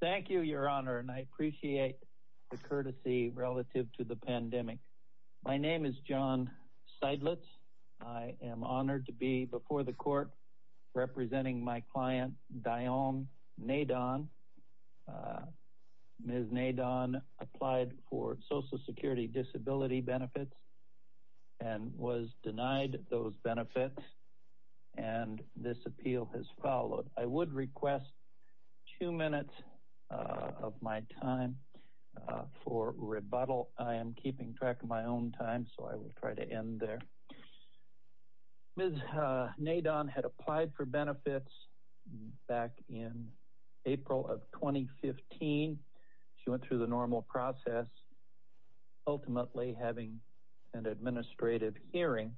thank you your honor and I appreciate the courtesy relative to the pandemic my name is John Seidlitz I am honored to be before the court representing my client Dionne Nadon. Ms. Nadon applied for Social Security disability benefits and was denied those benefits and this appeal has followed. I would request two minutes of my time for rebuttal I am keeping track of my own time so I will try to end there. Ms. Nadon had applied for benefits back in April of 2015 she went through the normal process ultimately having an administrative hearing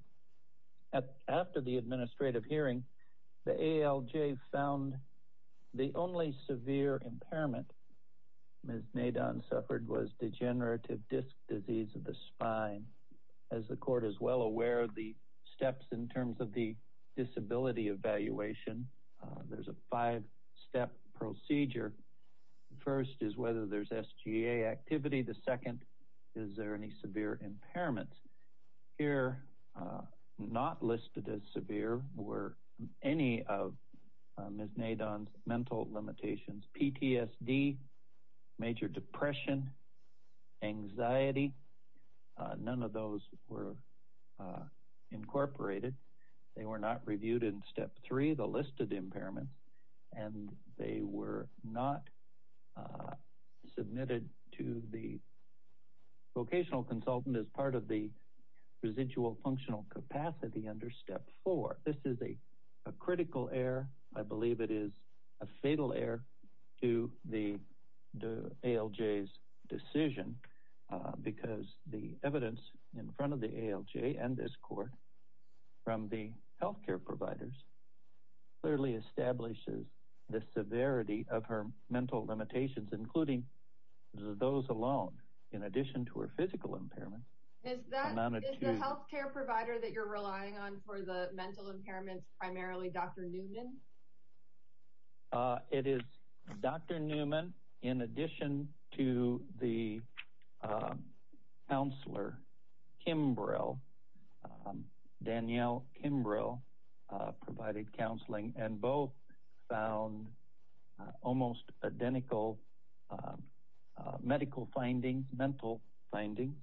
at after the administrative hearing the ALJ found the only severe impairment Ms. Nadon suffered was degenerative disc disease of the spine as the court is well aware of the steps in terms of the disability evaluation there's a five-step procedure first is whether there's SGA activity the second is there any severe impairments here not listed as severe were any of Ms. Nadon's mental limitations PTSD major depression anxiety none of those were incorporated they were not reviewed in step 3 the listed impairments and they were not submitted to the vocational consultant as part of the residual functional capacity under step 4 this is a critical error I believe it is a fatal error to the ALJ's decision because the evidence in front of the ALJ and this of her mental limitations including those alone in addition to her physical impairment it is dr. Newman in addition to the counselor Kimbrell Danielle Kimbrell provided counseling and both found almost identical medical findings mental findings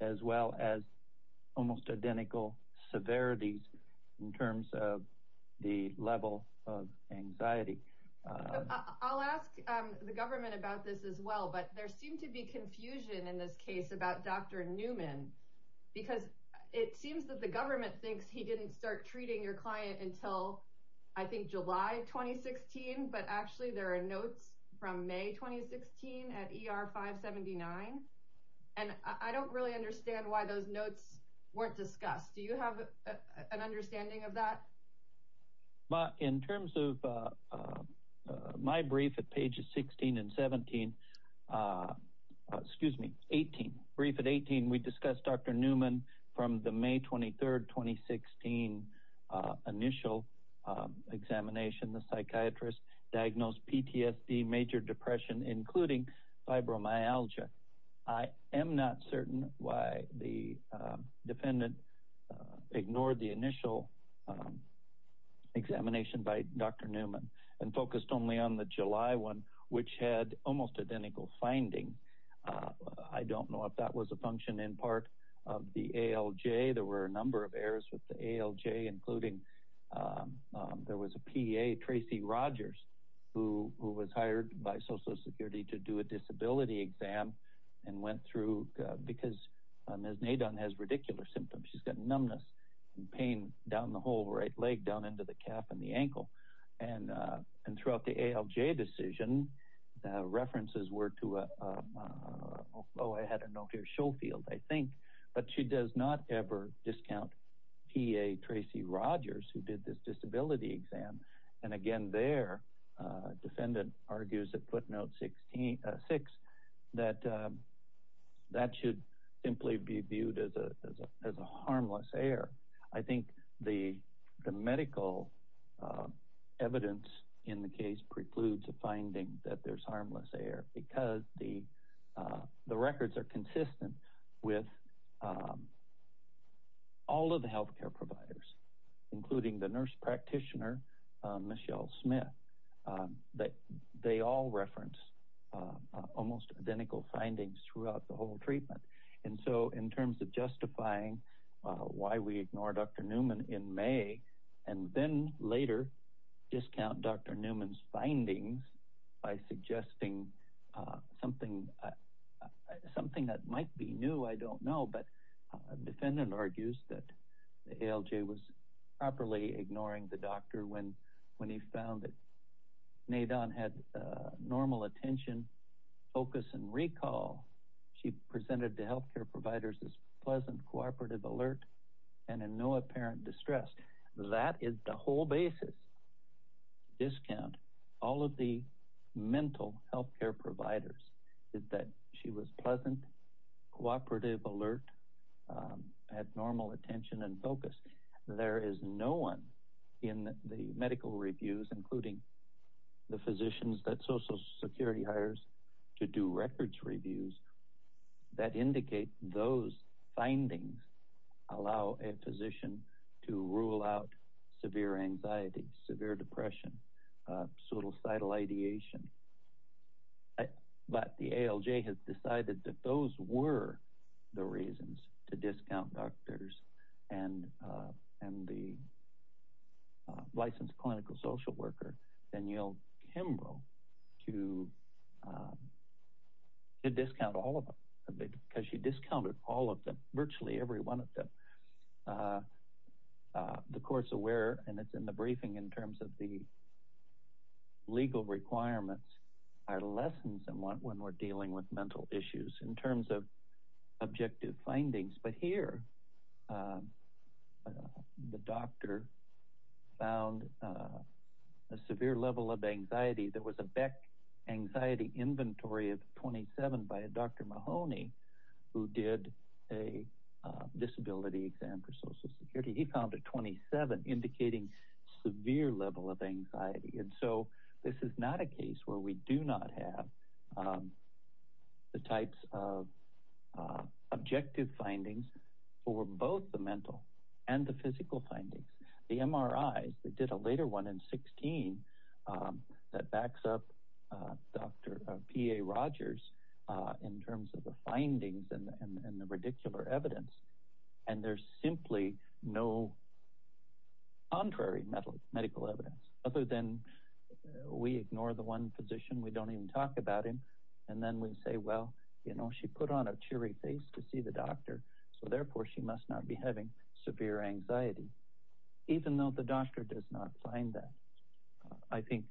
as well as almost identical severities in terms of the level of anxiety I'll ask the government about this as well but there seemed to be confusion in this case about dr. Newman because it seems that the he didn't start treating your client until I think July 2016 but actually there are notes from May 2016 at er 579 and I don't really understand why those notes weren't discussed do you have an understanding of that but in terms of my brief at pages 16 and 17 excuse me 18 brief at 18 we discussed dr. Newman from the May 23rd 2016 initial examination the psychiatrist diagnosed PTSD major depression including fibromyalgia I am not certain why the defendant ignored the initial examination by dr. Newman and focused only on the July one which had almost identical finding I don't know if that was a function in part of the ALJ there were a number of errors with the ALJ including there was a PA Tracy Rogers who was hired by Social Security to do a disability exam and went through because as Nadine has ridiculous symptoms she's got numbness and pain down the whole right leg down into the calf and the ankle and and throughout the ALJ decision the references were to a oh I had a no here field I think but she does not ever discount PA Tracy Rogers who did this disability exam and again their defendant argues that footnote 16 6 that that should simply be viewed as a harmless air I think the medical evidence in the case precludes a finding that there's harmless air because the records are consistent with all of the health care providers including the nurse practitioner Michelle Smith that they all reference almost identical findings throughout the whole treatment and so in terms of justifying why we ignore dr. Newman in May and then later discount dr. Newman's findings by suggesting something something that might be new I don't know but defendant argues that the ALJ was properly ignoring the doctor when when he found it made on had normal attention focus and recall she presented to health care providers as pleasant cooperative alert and in no apparent distress that is the whole basis discount all of the mental health care providers is that she was pleasant cooperative alert at normal attention and focus there is no one in the medical reviews including the physicians that Social Security hires to do records reviews that indicate those findings allow a physician to rule out severe anxiety severe depression suicidal ideation but the ALJ has decided that those were the reasons to discount doctors and and the licensed clinical social worker and you know Kimbrough to to discount all of them because she discounted all of them virtually every one of them the courts aware and it's in the briefing in terms of the legal requirements are lessons and want when we're dealing with mental issues in terms of objective findings but here the doctor found a severe level of anxiety there was a Beck anxiety inventory of 27 by a dr. Mahoney who did a disability exam for Social Security he found a 27 indicating severe level of anxiety and so this is not a case where we do not have the types of objective findings for both the mental and the physical findings the MRIs they did a later one in 16 that backs up dr. PA Rogers in terms of the findings and the ridicular evidence and there's simply no contrary metal medical evidence other than we ignore the one position we don't even talk about him and then we say well you know she put on a cheery face to see the doctor so therefore she must not be having severe anxiety even though the doctor does not find that I think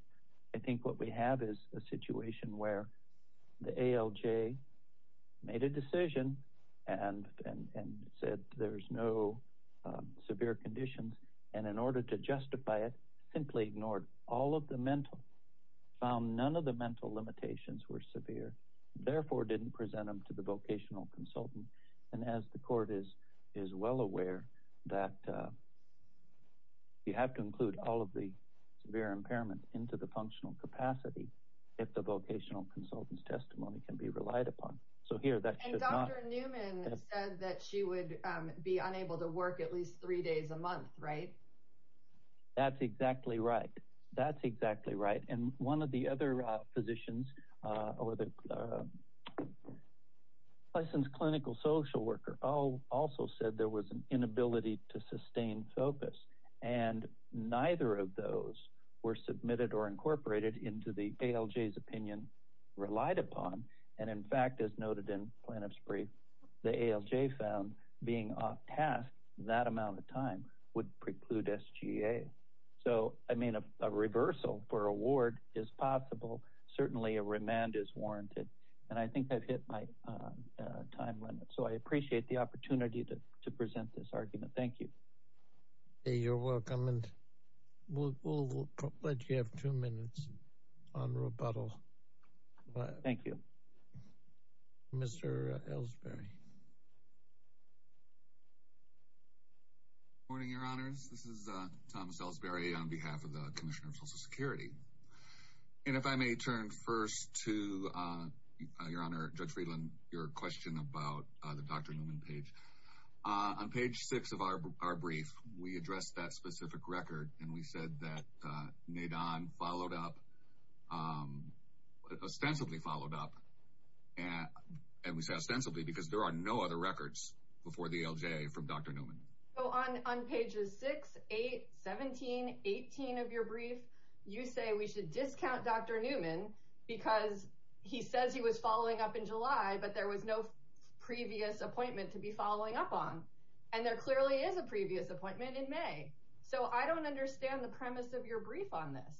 I think what we have is a situation where the ALJ made a decision and said there's no severe conditions and in order to justify it simply ignored all of the mental found none of the mental limitations were severe therefore didn't present them to the vocational consultant and as the court is is well aware that you have to include all of the severe impairments into the functional capacity if the vocational consultants testimony can be relied upon so here that she would be unable to work at least three days a month right that's exactly right that's exactly right and one of the other physicians or the licensed clinical social worker Oh also said there was an inability to sustain focus and neither of those were submitted or incorporated into the ALJ his opinion relied upon and in fact as noted in plaintiff's brief the ALJ found being off task that amount of time would preclude SGA so I mean a reversal for award is possible certainly a remand is to present this argument thank you you're welcome and we'll let you have two minutes on rebuttal thank you mr. Ellsbury morning your honors this is Thomas Ellsbury on behalf of the Commission of Social Security and if I may turn first to your honor judge Friedland your question about the dr. Newman page on page 6 of our brief we addressed that specific record and we said that made on followed up ostensibly followed up and and we said sensibly because there are no other records before the ALJ from dr. Newman Oh on on pages 6 8 17 18 of your brief you say we should discount dr. Newman because he says he was following up in July but there was no previous appointment to be following up on and there clearly is a previous appointment in May so I don't understand the premise of your brief on this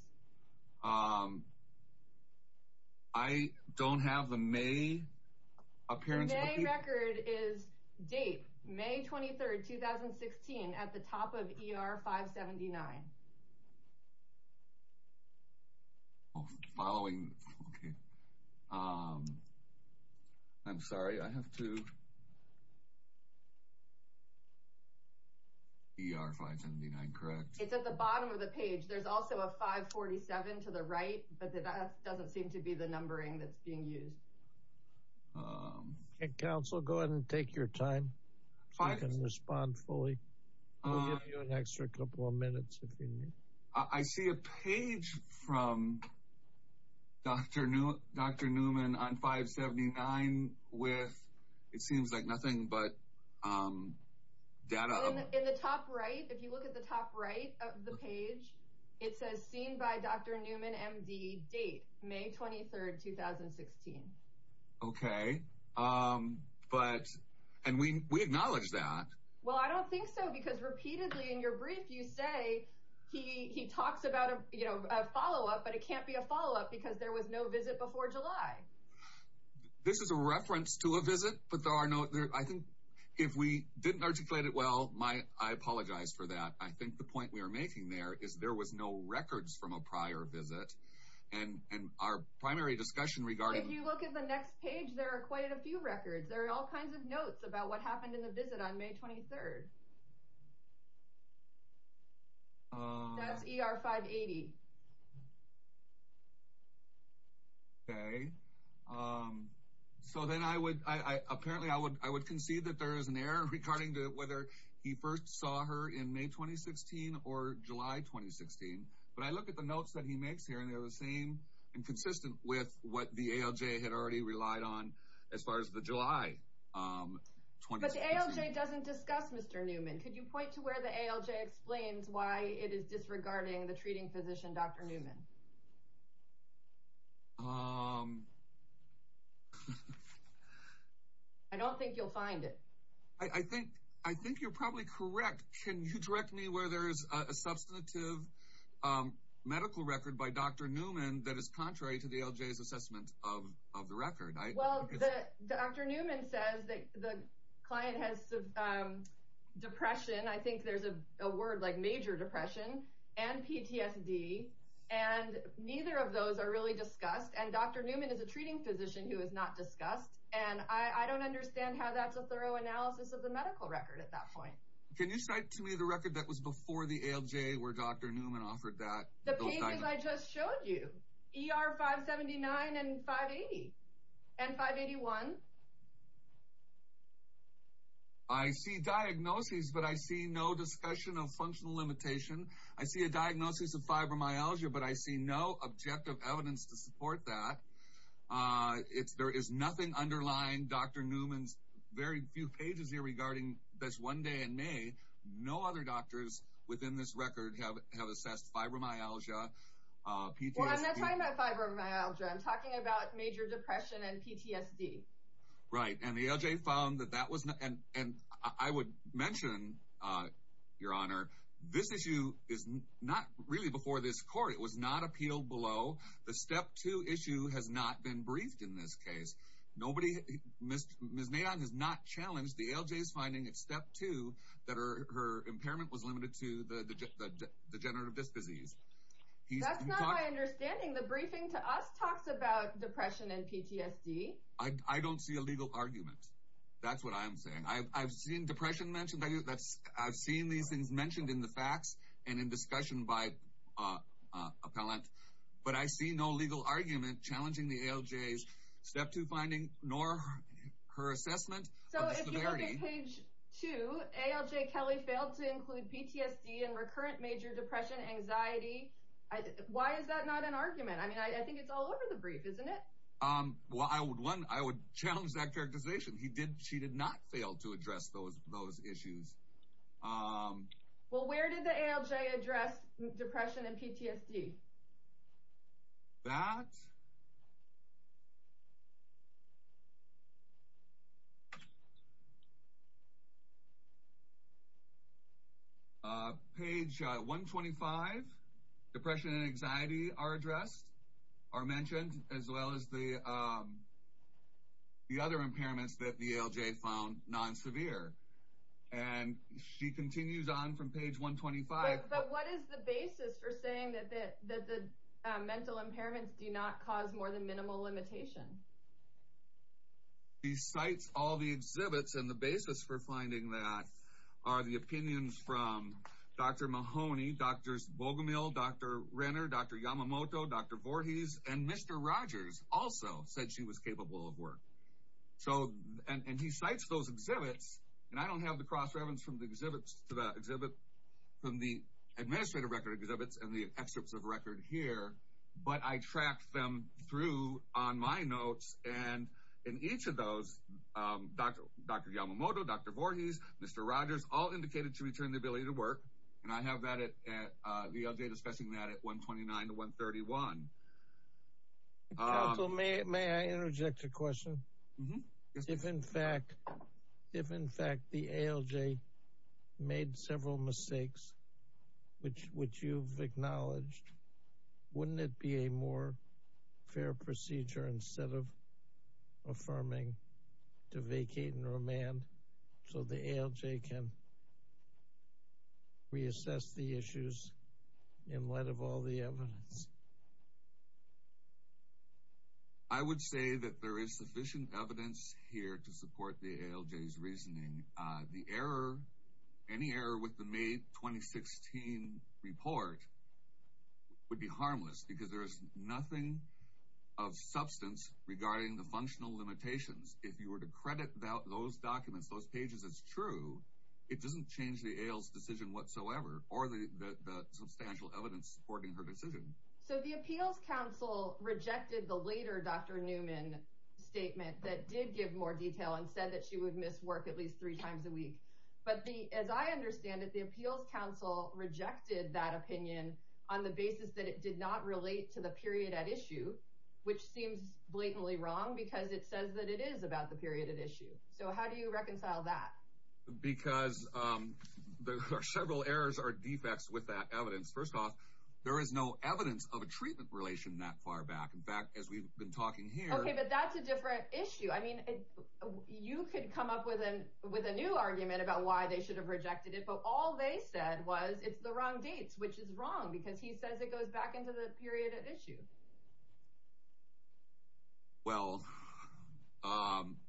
I don't have the May appearance record is date May 23rd 2016 at the top of er 579 following I'm sorry I have to er 579 correct it's at the bottom of the page there's also a 547 to the right but that doesn't seem to be the numbering that's being used council go ahead and take your time five and respond fully an extra couple of minutes I see a page from dr. new dr. Newman on 579 with it seems like nothing but data in the top right if you look at it says seen by dr. Newman MD date May 23rd 2016 okay um but and we acknowledge that well I don't think so because repeatedly in your brief you say he he talks about a you know a follow-up but it can't be a follow-up because there was no visit before July this is a reference to a visit but there are no there I think if we didn't articulate it well my I apologize for that I think the records from a prior visit and and our primary discussion regarding you look at the next page there are quite a few records there are all kinds of notes about what happened in the visit on May 23rd er 580 okay so then I would I apparently I would I would concede that there is an error regarding to whether he first saw her in May 2016 or July 2016 but I look at the notes that he makes here and they're the same and consistent with what the ALJ had already relied on as far as the July 20th doesn't discuss mr. Newman could you point to where the ALJ explains why it is disregarding the treating physician dr. Newman I don't think you'll find it I think I think you're probably correct can you direct me where there is a substantive medical record by dr. Newman that is contrary to the LJ's assessment of the record well dr. Newman says that the client has depression I think there's a word like major depression and neither of those are really discussed and dr. Newman is a treating physician who is not discussed and I I don't understand how that's a thorough analysis of the medical record at that point can you cite to me the record that was before the ALJ where dr. Newman offered that I just showed you er 579 and 580 and 581 I see diagnoses but I see no discussion of functional limitation I see a diagnosis of fibromyalgia but I see no objective evidence to support that it's there is nothing underlying dr. Newman's very few pages here regarding this one day in May no other doctors within this record have assessed fibromyalgia right and the ALJ found that that was nothing and I would mention your honor this issue is not really before this court it was not appealed below the step two issue has not been briefed in this case nobody missed miss neon has not challenged the ALJ is finding at step two that are her impairment was limited to the degenerative disc disease I don't see a I've seen these things mentioned in the facts and in discussion by appellant but I see no legal argument challenging the ALJ's step to finding nor her assessment so if you look at page 2 ALJ Kelly failed to include PTSD and recurrent major depression anxiety I why is that not an argument I mean I think it's all over the brief isn't it um well I would one I would challenge that issues well where did the ALJ address depression and PTSD that page 125 depression and anxiety are addressed are mentioned as well as the the other impairments that the ALJ found non-severe and she continues on from page 125 but what is the basis for saying that that the mental impairments do not cause more than minimal limitation he cites all the exhibits and the basis for finding that are the opinions from dr. Mahoney dr. Bogomil dr. Renner dr. Yamamoto dr. Voorhees and mr. Rogers also said she was capable of work so and he cites those exhibits and I don't have the cross-reference from the exhibits to the exhibit from the administrative record exhibits and the excerpts of record here but I tracked them through on my notes and in each of those dr. dr. Yamamoto dr. Voorhees mr. Rogers all indicated to return the ability to work and I have that at the ALJ discussing that at 129 to 131 may I interject a question if in fact if in fact the ALJ made several mistakes which which you've acknowledged wouldn't it be a more fair procedure instead of affirming to vacate and remand so the ALJ can reassess the issues in light of all the evidence I would say that there is sufficient evidence here to support the ALJ's reasoning the error any error with the May 2016 report would be harmless because there is nothing of substance regarding the functional limitations if you were to credit about those documents those pages it's true it doesn't change the ales decision whatsoever or the substantial evidence so the appeals counsel rejected the later dr. Newman statement that did give more detail and said that she would miss work at least three times a week but the as I understand it the appeals counsel rejected that opinion on the basis that it did not relate to the period at issue which seems blatantly wrong because it says that it is about the period at issue so how do you reconcile that because there are several errors or defects with that evidence first off there is no evidence of a treatment relation that far back in fact as we've been talking here but that's a different issue I mean you could come up with a with a new argument about why they should have rejected it but all they said was it's the wrong dates which is wrong because he says it goes back into the period of issue well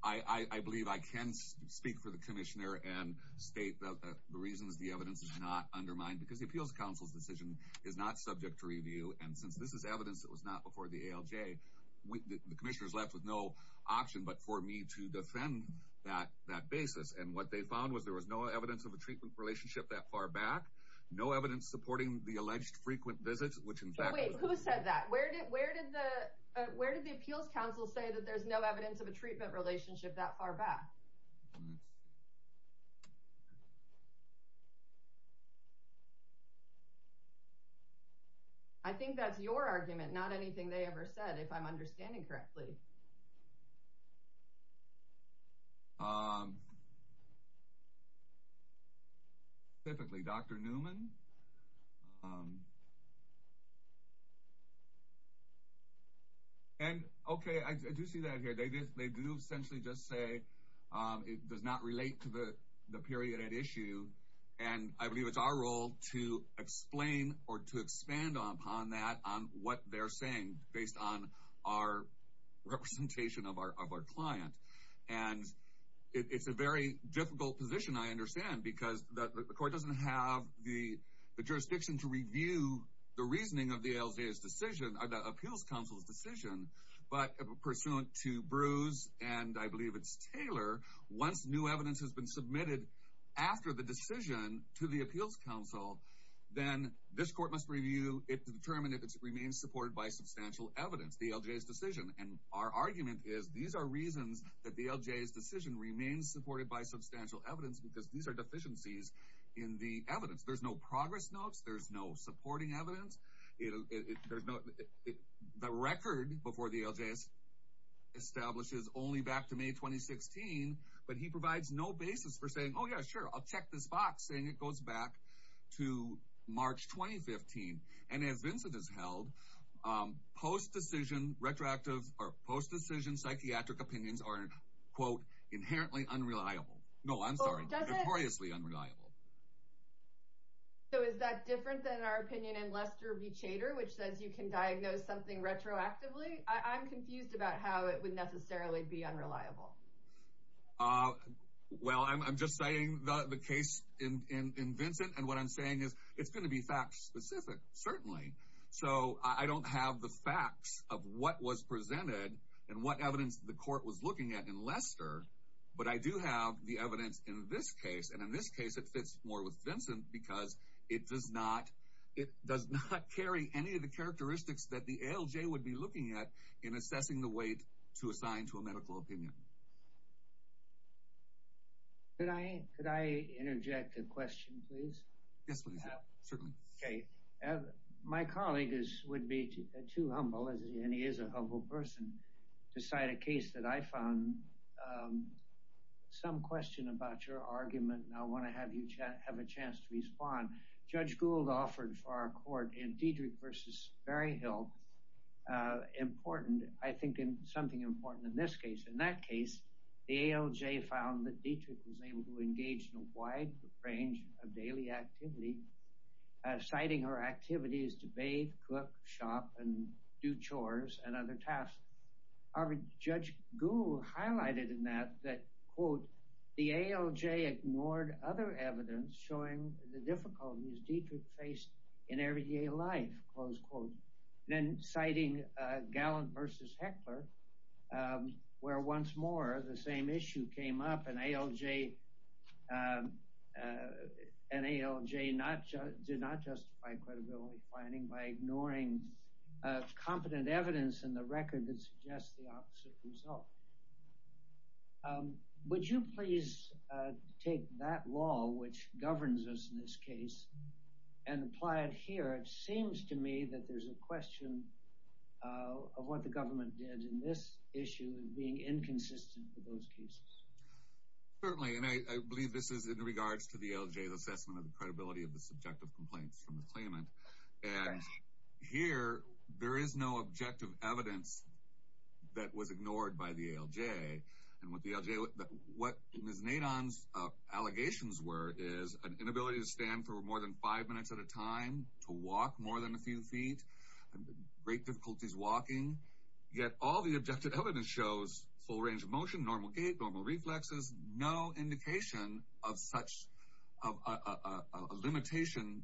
I I believe I can speak for the commissioner and state the reasons the evidence is not undermined because the appeals counsel's decision is not subject to review and since this is evidence that was not before the ALJ with the commissioners left with no option but for me to defend that that basis and what they found was there was no evidence of a treatment relationship that far back no evidence supporting the alleged frequent visits which in fact we said that where did where did the where did the appeals counsel say that there's no evidence of a treatment relationship that far back I think that's your argument not anything they ever said if I'm understanding correctly typically dr. Newman and okay I do see that here they did they do essentially just say it does not relate to the the period at issue and I believe it's our role to explain or to expand upon that on what they're saying based on our representation of our client and it's a very difficult position I understand because the court doesn't have the jurisdiction to review the reasoning of the ALJ's decision or the appeals counsel's decision but pursuant to Bruce and I believe it's Taylor once new evidence has been submitted after the decision to the appeals counsel then this court must review it to determine if it remains supported by substantial evidence the LJ's decision and our argument is these are reasons that the LJ's decision remains supported by substantial evidence because these are deficiencies in the evidence there's no progress notes there's no supporting evidence it the record before the LJ's establishes only back to May 2016 but he provides no basis for saying oh yeah sure I'll check this box saying it goes back to March 2015 and as Vincent is held post-decision retroactive or post-decision psychiatric opinions are quote inherently unreliable no I'm sorry notoriously unreliable so is that different than our opinion in Lester B chater which says you can diagnose something retroactively I'm confused about how it would necessarily be unreliable well I'm just saying the case in Vincent and what I'm saying is it's certainly so I don't have the facts of what was presented and what evidence the court was looking at in Lester but I do have the evidence in this case and in this case it fits more with Vincent because it does not it does not carry any of the characteristics that the LJ would be looking at in assessing the weight to assign to a medical opinion but I could I interject a question please yes okay my colleague is would be too humble as he is a humble person to cite a case that I found some question about your argument and I want to have you chat have a chance to respond judge Gould offered for our court in Dietrich versus Barry Hill important I think in something important in this case in that case the ALJ found that Dietrich was able to engage in a wide range of daily activity citing her activities to bathe cook shop and do chores and other tasks our judge Google highlighted in that that quote the ALJ ignored other evidence showing the difficulties Dietrich faced in everyday life close quote then citing gallant versus heckler where once more the same issue came up and ALJ and ALJ not just did not justify credibility finding by ignoring competent evidence in the record that suggests the opposite result would you please take that law which governs us in this case and apply it here it seems to me that there's a question of what the government did in this issue and being inconsistent with those cases certainly and I believe this is in regards to the ALJ the assessment of the credibility of the subjective complaints from the claimant and here there is no objective evidence that was ignored by the ALJ and what the ALJ what Ms. Nadine's allegations were is an inability to stand for more than five minutes at a time to walk more than a few feet great difficulties walking yet all the objective evidence shows full range of motion normal gait normal reflexes no indication of such a limitation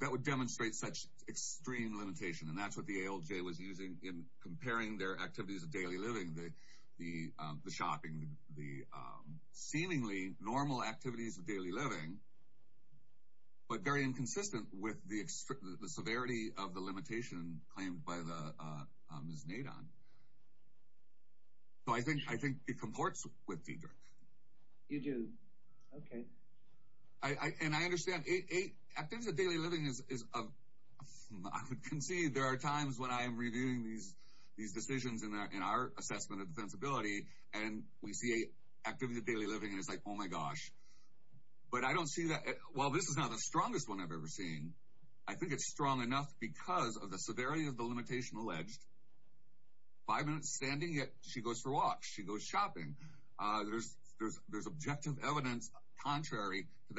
that would demonstrate such extreme limitation and that's what the ALJ was using in comparing their activities of the shopping the seemingly normal activities of daily living but very inconsistent with the severity of the limitation claimed by the Ms. Nadine so I think I think it comports with Dietrich you do okay I and I understand eight activities of daily living is I would concede there are times when I am reviewing these these decisions in our assessment of defensibility and we see a activity daily living and it's like oh my gosh but I don't see that well this is not the strongest one I've ever seen I think it's strong enough because of the severity of the limitation alleged five minutes standing yet she goes for walks she goes shopping there's there's there's objective evidence contrary to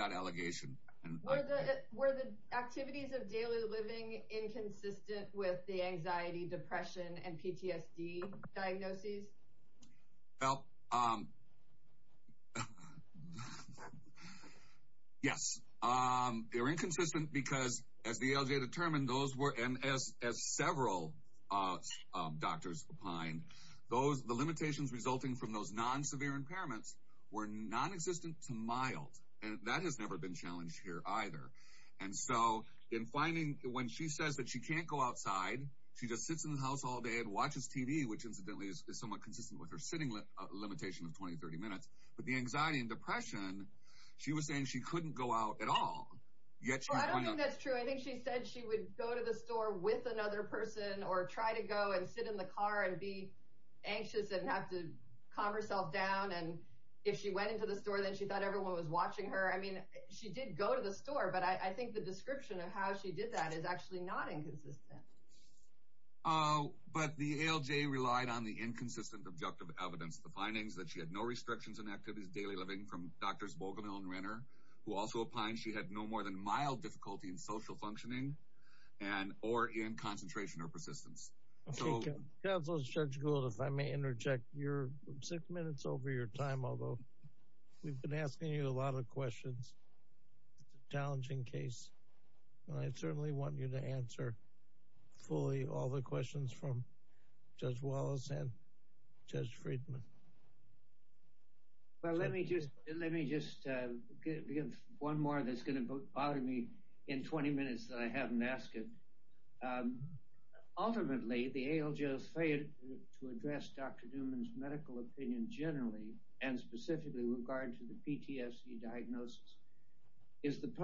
depression and PTSD diagnoses yes they're inconsistent because as the LJ determined those were MS as several doctors behind those the limitations resulting from those non severe impairments were non-existent to mild and that has never been challenged here either and so in finding when she says that she can't go outside she just sits in the house all day and watches TV which incidentally is somewhat consistent with her sitting limitation of 20-30 minutes but the anxiety and depression she was saying she couldn't go out at all yet she said she would go to the store with another person or try to go and sit in the car and be anxious and have to calm herself down and if she went into the store then she thought everyone was watching her I mean she did go to the store but I think the description of how she did that is actually not inconsistent oh but the LJ relied on the inconsistent objective evidence the findings that she had no restrictions and activities daily living from dr. Svogomil and Renner who also opined she had no more than mild difficulty in social functioning and or in concentration or persistence if I may interject your six minutes over your time although we've been asking you a I certainly want you to answer fully all the questions from judge Wallace and judge Friedman well let me just let me just give one more that's going to bother me in 20 minutes that I haven't asked it ultimately the ALJ failed to address dr. Newman's medical opinion generally and specifically regard to the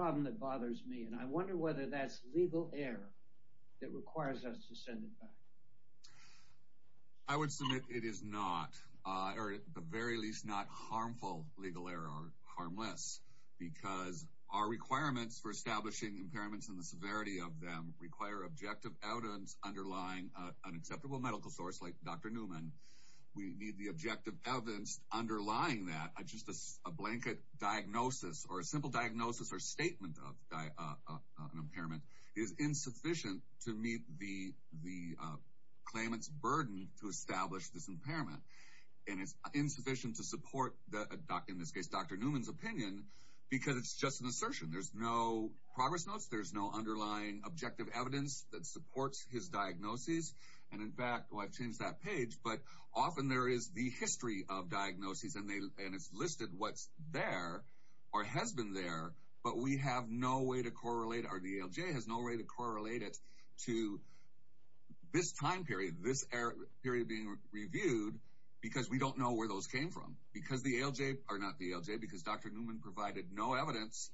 and I wonder whether that's legal error that requires us to send it back I would submit it is not the very least not harmful legal error or harmless because our requirements for establishing impairments in the severity of them require objective evidence underlying an acceptable medical source like dr. Newman we need the objective evidence underlying that I just a blanket diagnosis or a simple diagnosis or statement of impairment is insufficient to meet the the claimants burden to establish this impairment and it's insufficient to support the doc in this case dr. Newman's opinion because it's just an assertion there's no progress notes there's no underlying objective evidence that supports his diagnoses and in fact I've changed that page but often there is the history of diagnoses and they and it's listed what's there or has been there but we have no way to correlate our DLJ has no way to correlate it to this time period this error period being reviewed because we don't know where those came from because the ALJ are not the ALJ because dr. Newman provided no evidence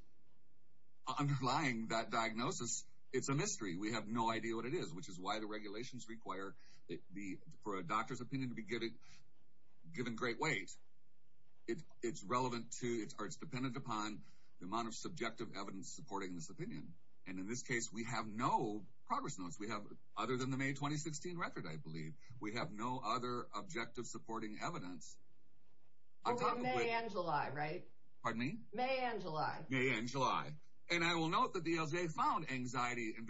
underlying that diagnosis it's a mystery we have no idea what it is which is why the regulations require the for a doctor's to get it given great weight it's relevant to its arts dependent upon the amount of subjective evidence supporting this opinion and in this case we have no progress notes we have other than the May 2016 record I believe we have no other objective supporting evidence on July right pardon me May and July yeah in July and I will note that the ALJ found anxiety and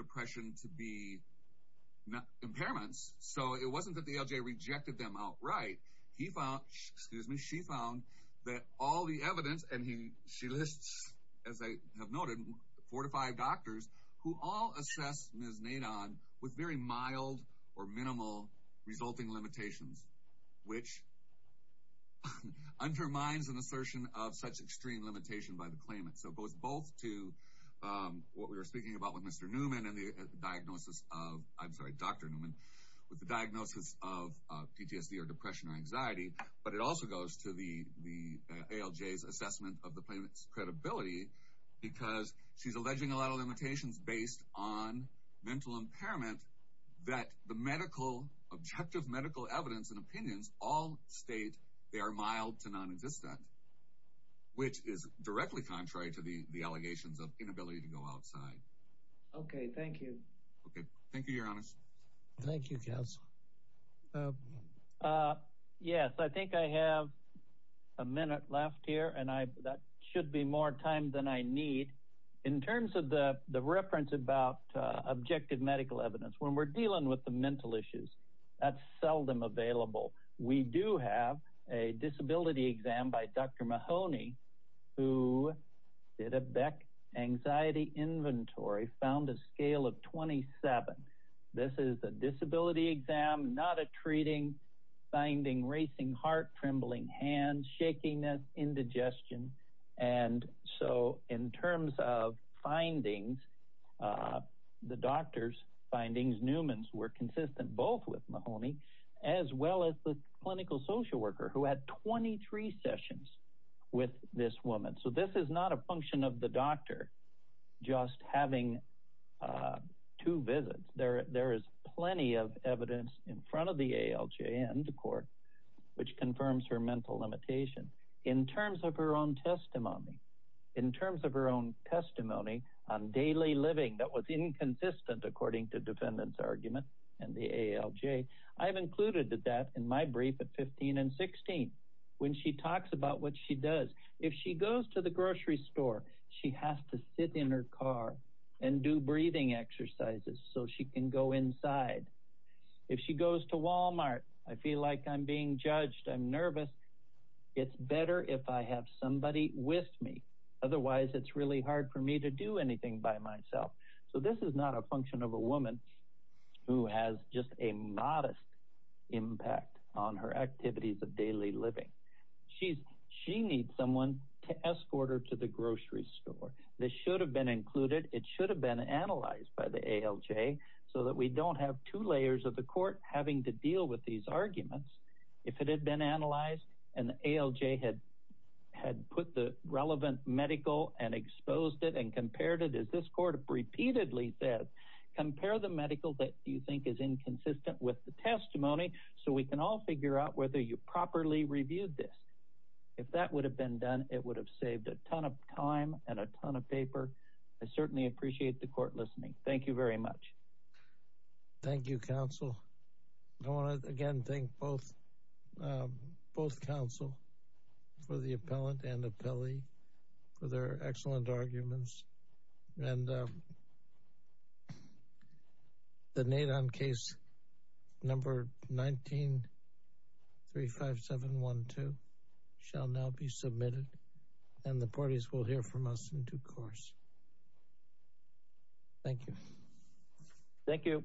right he found excuse me she found that all the evidence and he she lists as I have noted four to five doctors who all assess Ms. Nadine with very mild or minimal resulting limitations which undermines an assertion of such extreme limitation by the claimant so it goes both to what we were speaking about with mr. Newman and the diagnosis of I'm sorry dr. Newman with the diagnosis of PTSD or depression or anxiety but it also goes to the the ALJ's assessment of the payments credibility because she's alleging a lot of limitations based on mental impairment that the medical objective medical evidence and opinions all state they are mild to non-existent which is directly contrary to the the allegations of inability to go outside okay thank you okay thank you your yes I think I have a minute left here and I that should be more time than I need in terms of the the reference about objective medical evidence when we're dealing with the mental issues that's seldom available we do have a disability exam by dr. Mahoney who did a Beck anxiety inventory found a scale of 27 this is the disability exam not a treating finding racing heart trembling hands shaking that indigestion and so in terms of findings the doctors findings Newman's were consistent both with Mahoney as well as the clinical social worker who had 23 sessions with this woman so this is not a function of the there there is plenty of evidence in front of the ALJ and the court which confirms her mental limitation in terms of her own testimony in terms of her own testimony on daily living that was inconsistent according to defendants argument and the ALJ I have included that in my brief at 15 and 16 when she talks about what she does if she goes to the grocery store she has to sit in her car and do breathing exercises so she can go inside if she goes to Walmart I feel like I'm being judged I'm nervous it's better if I have somebody with me otherwise it's really hard for me to do anything by myself so this is not a function of a woman who has just a modest impact on her activities of daily living she's she needs someone to escort her to the grocery store this should have been included it should have been analyzed by the ALJ so that we don't have two layers of the court having to deal with these arguments if it had been analyzed and the ALJ had had put the relevant medical and exposed it and compared it as this court repeatedly said compare the medical that you think is inconsistent with the testimony so we can all figure out whether you properly reviewed this if that would have been done it would have saved a ton of time and a ton of paper I certainly appreciate the court listening thank you very much thank you counsel I want to again thank both both counsel for the appellant and appellee for their excellent arguments and the nade on case number 19 3 5 7 1 2 shall now be submitted and the parties will hear from us in due course thank you thank you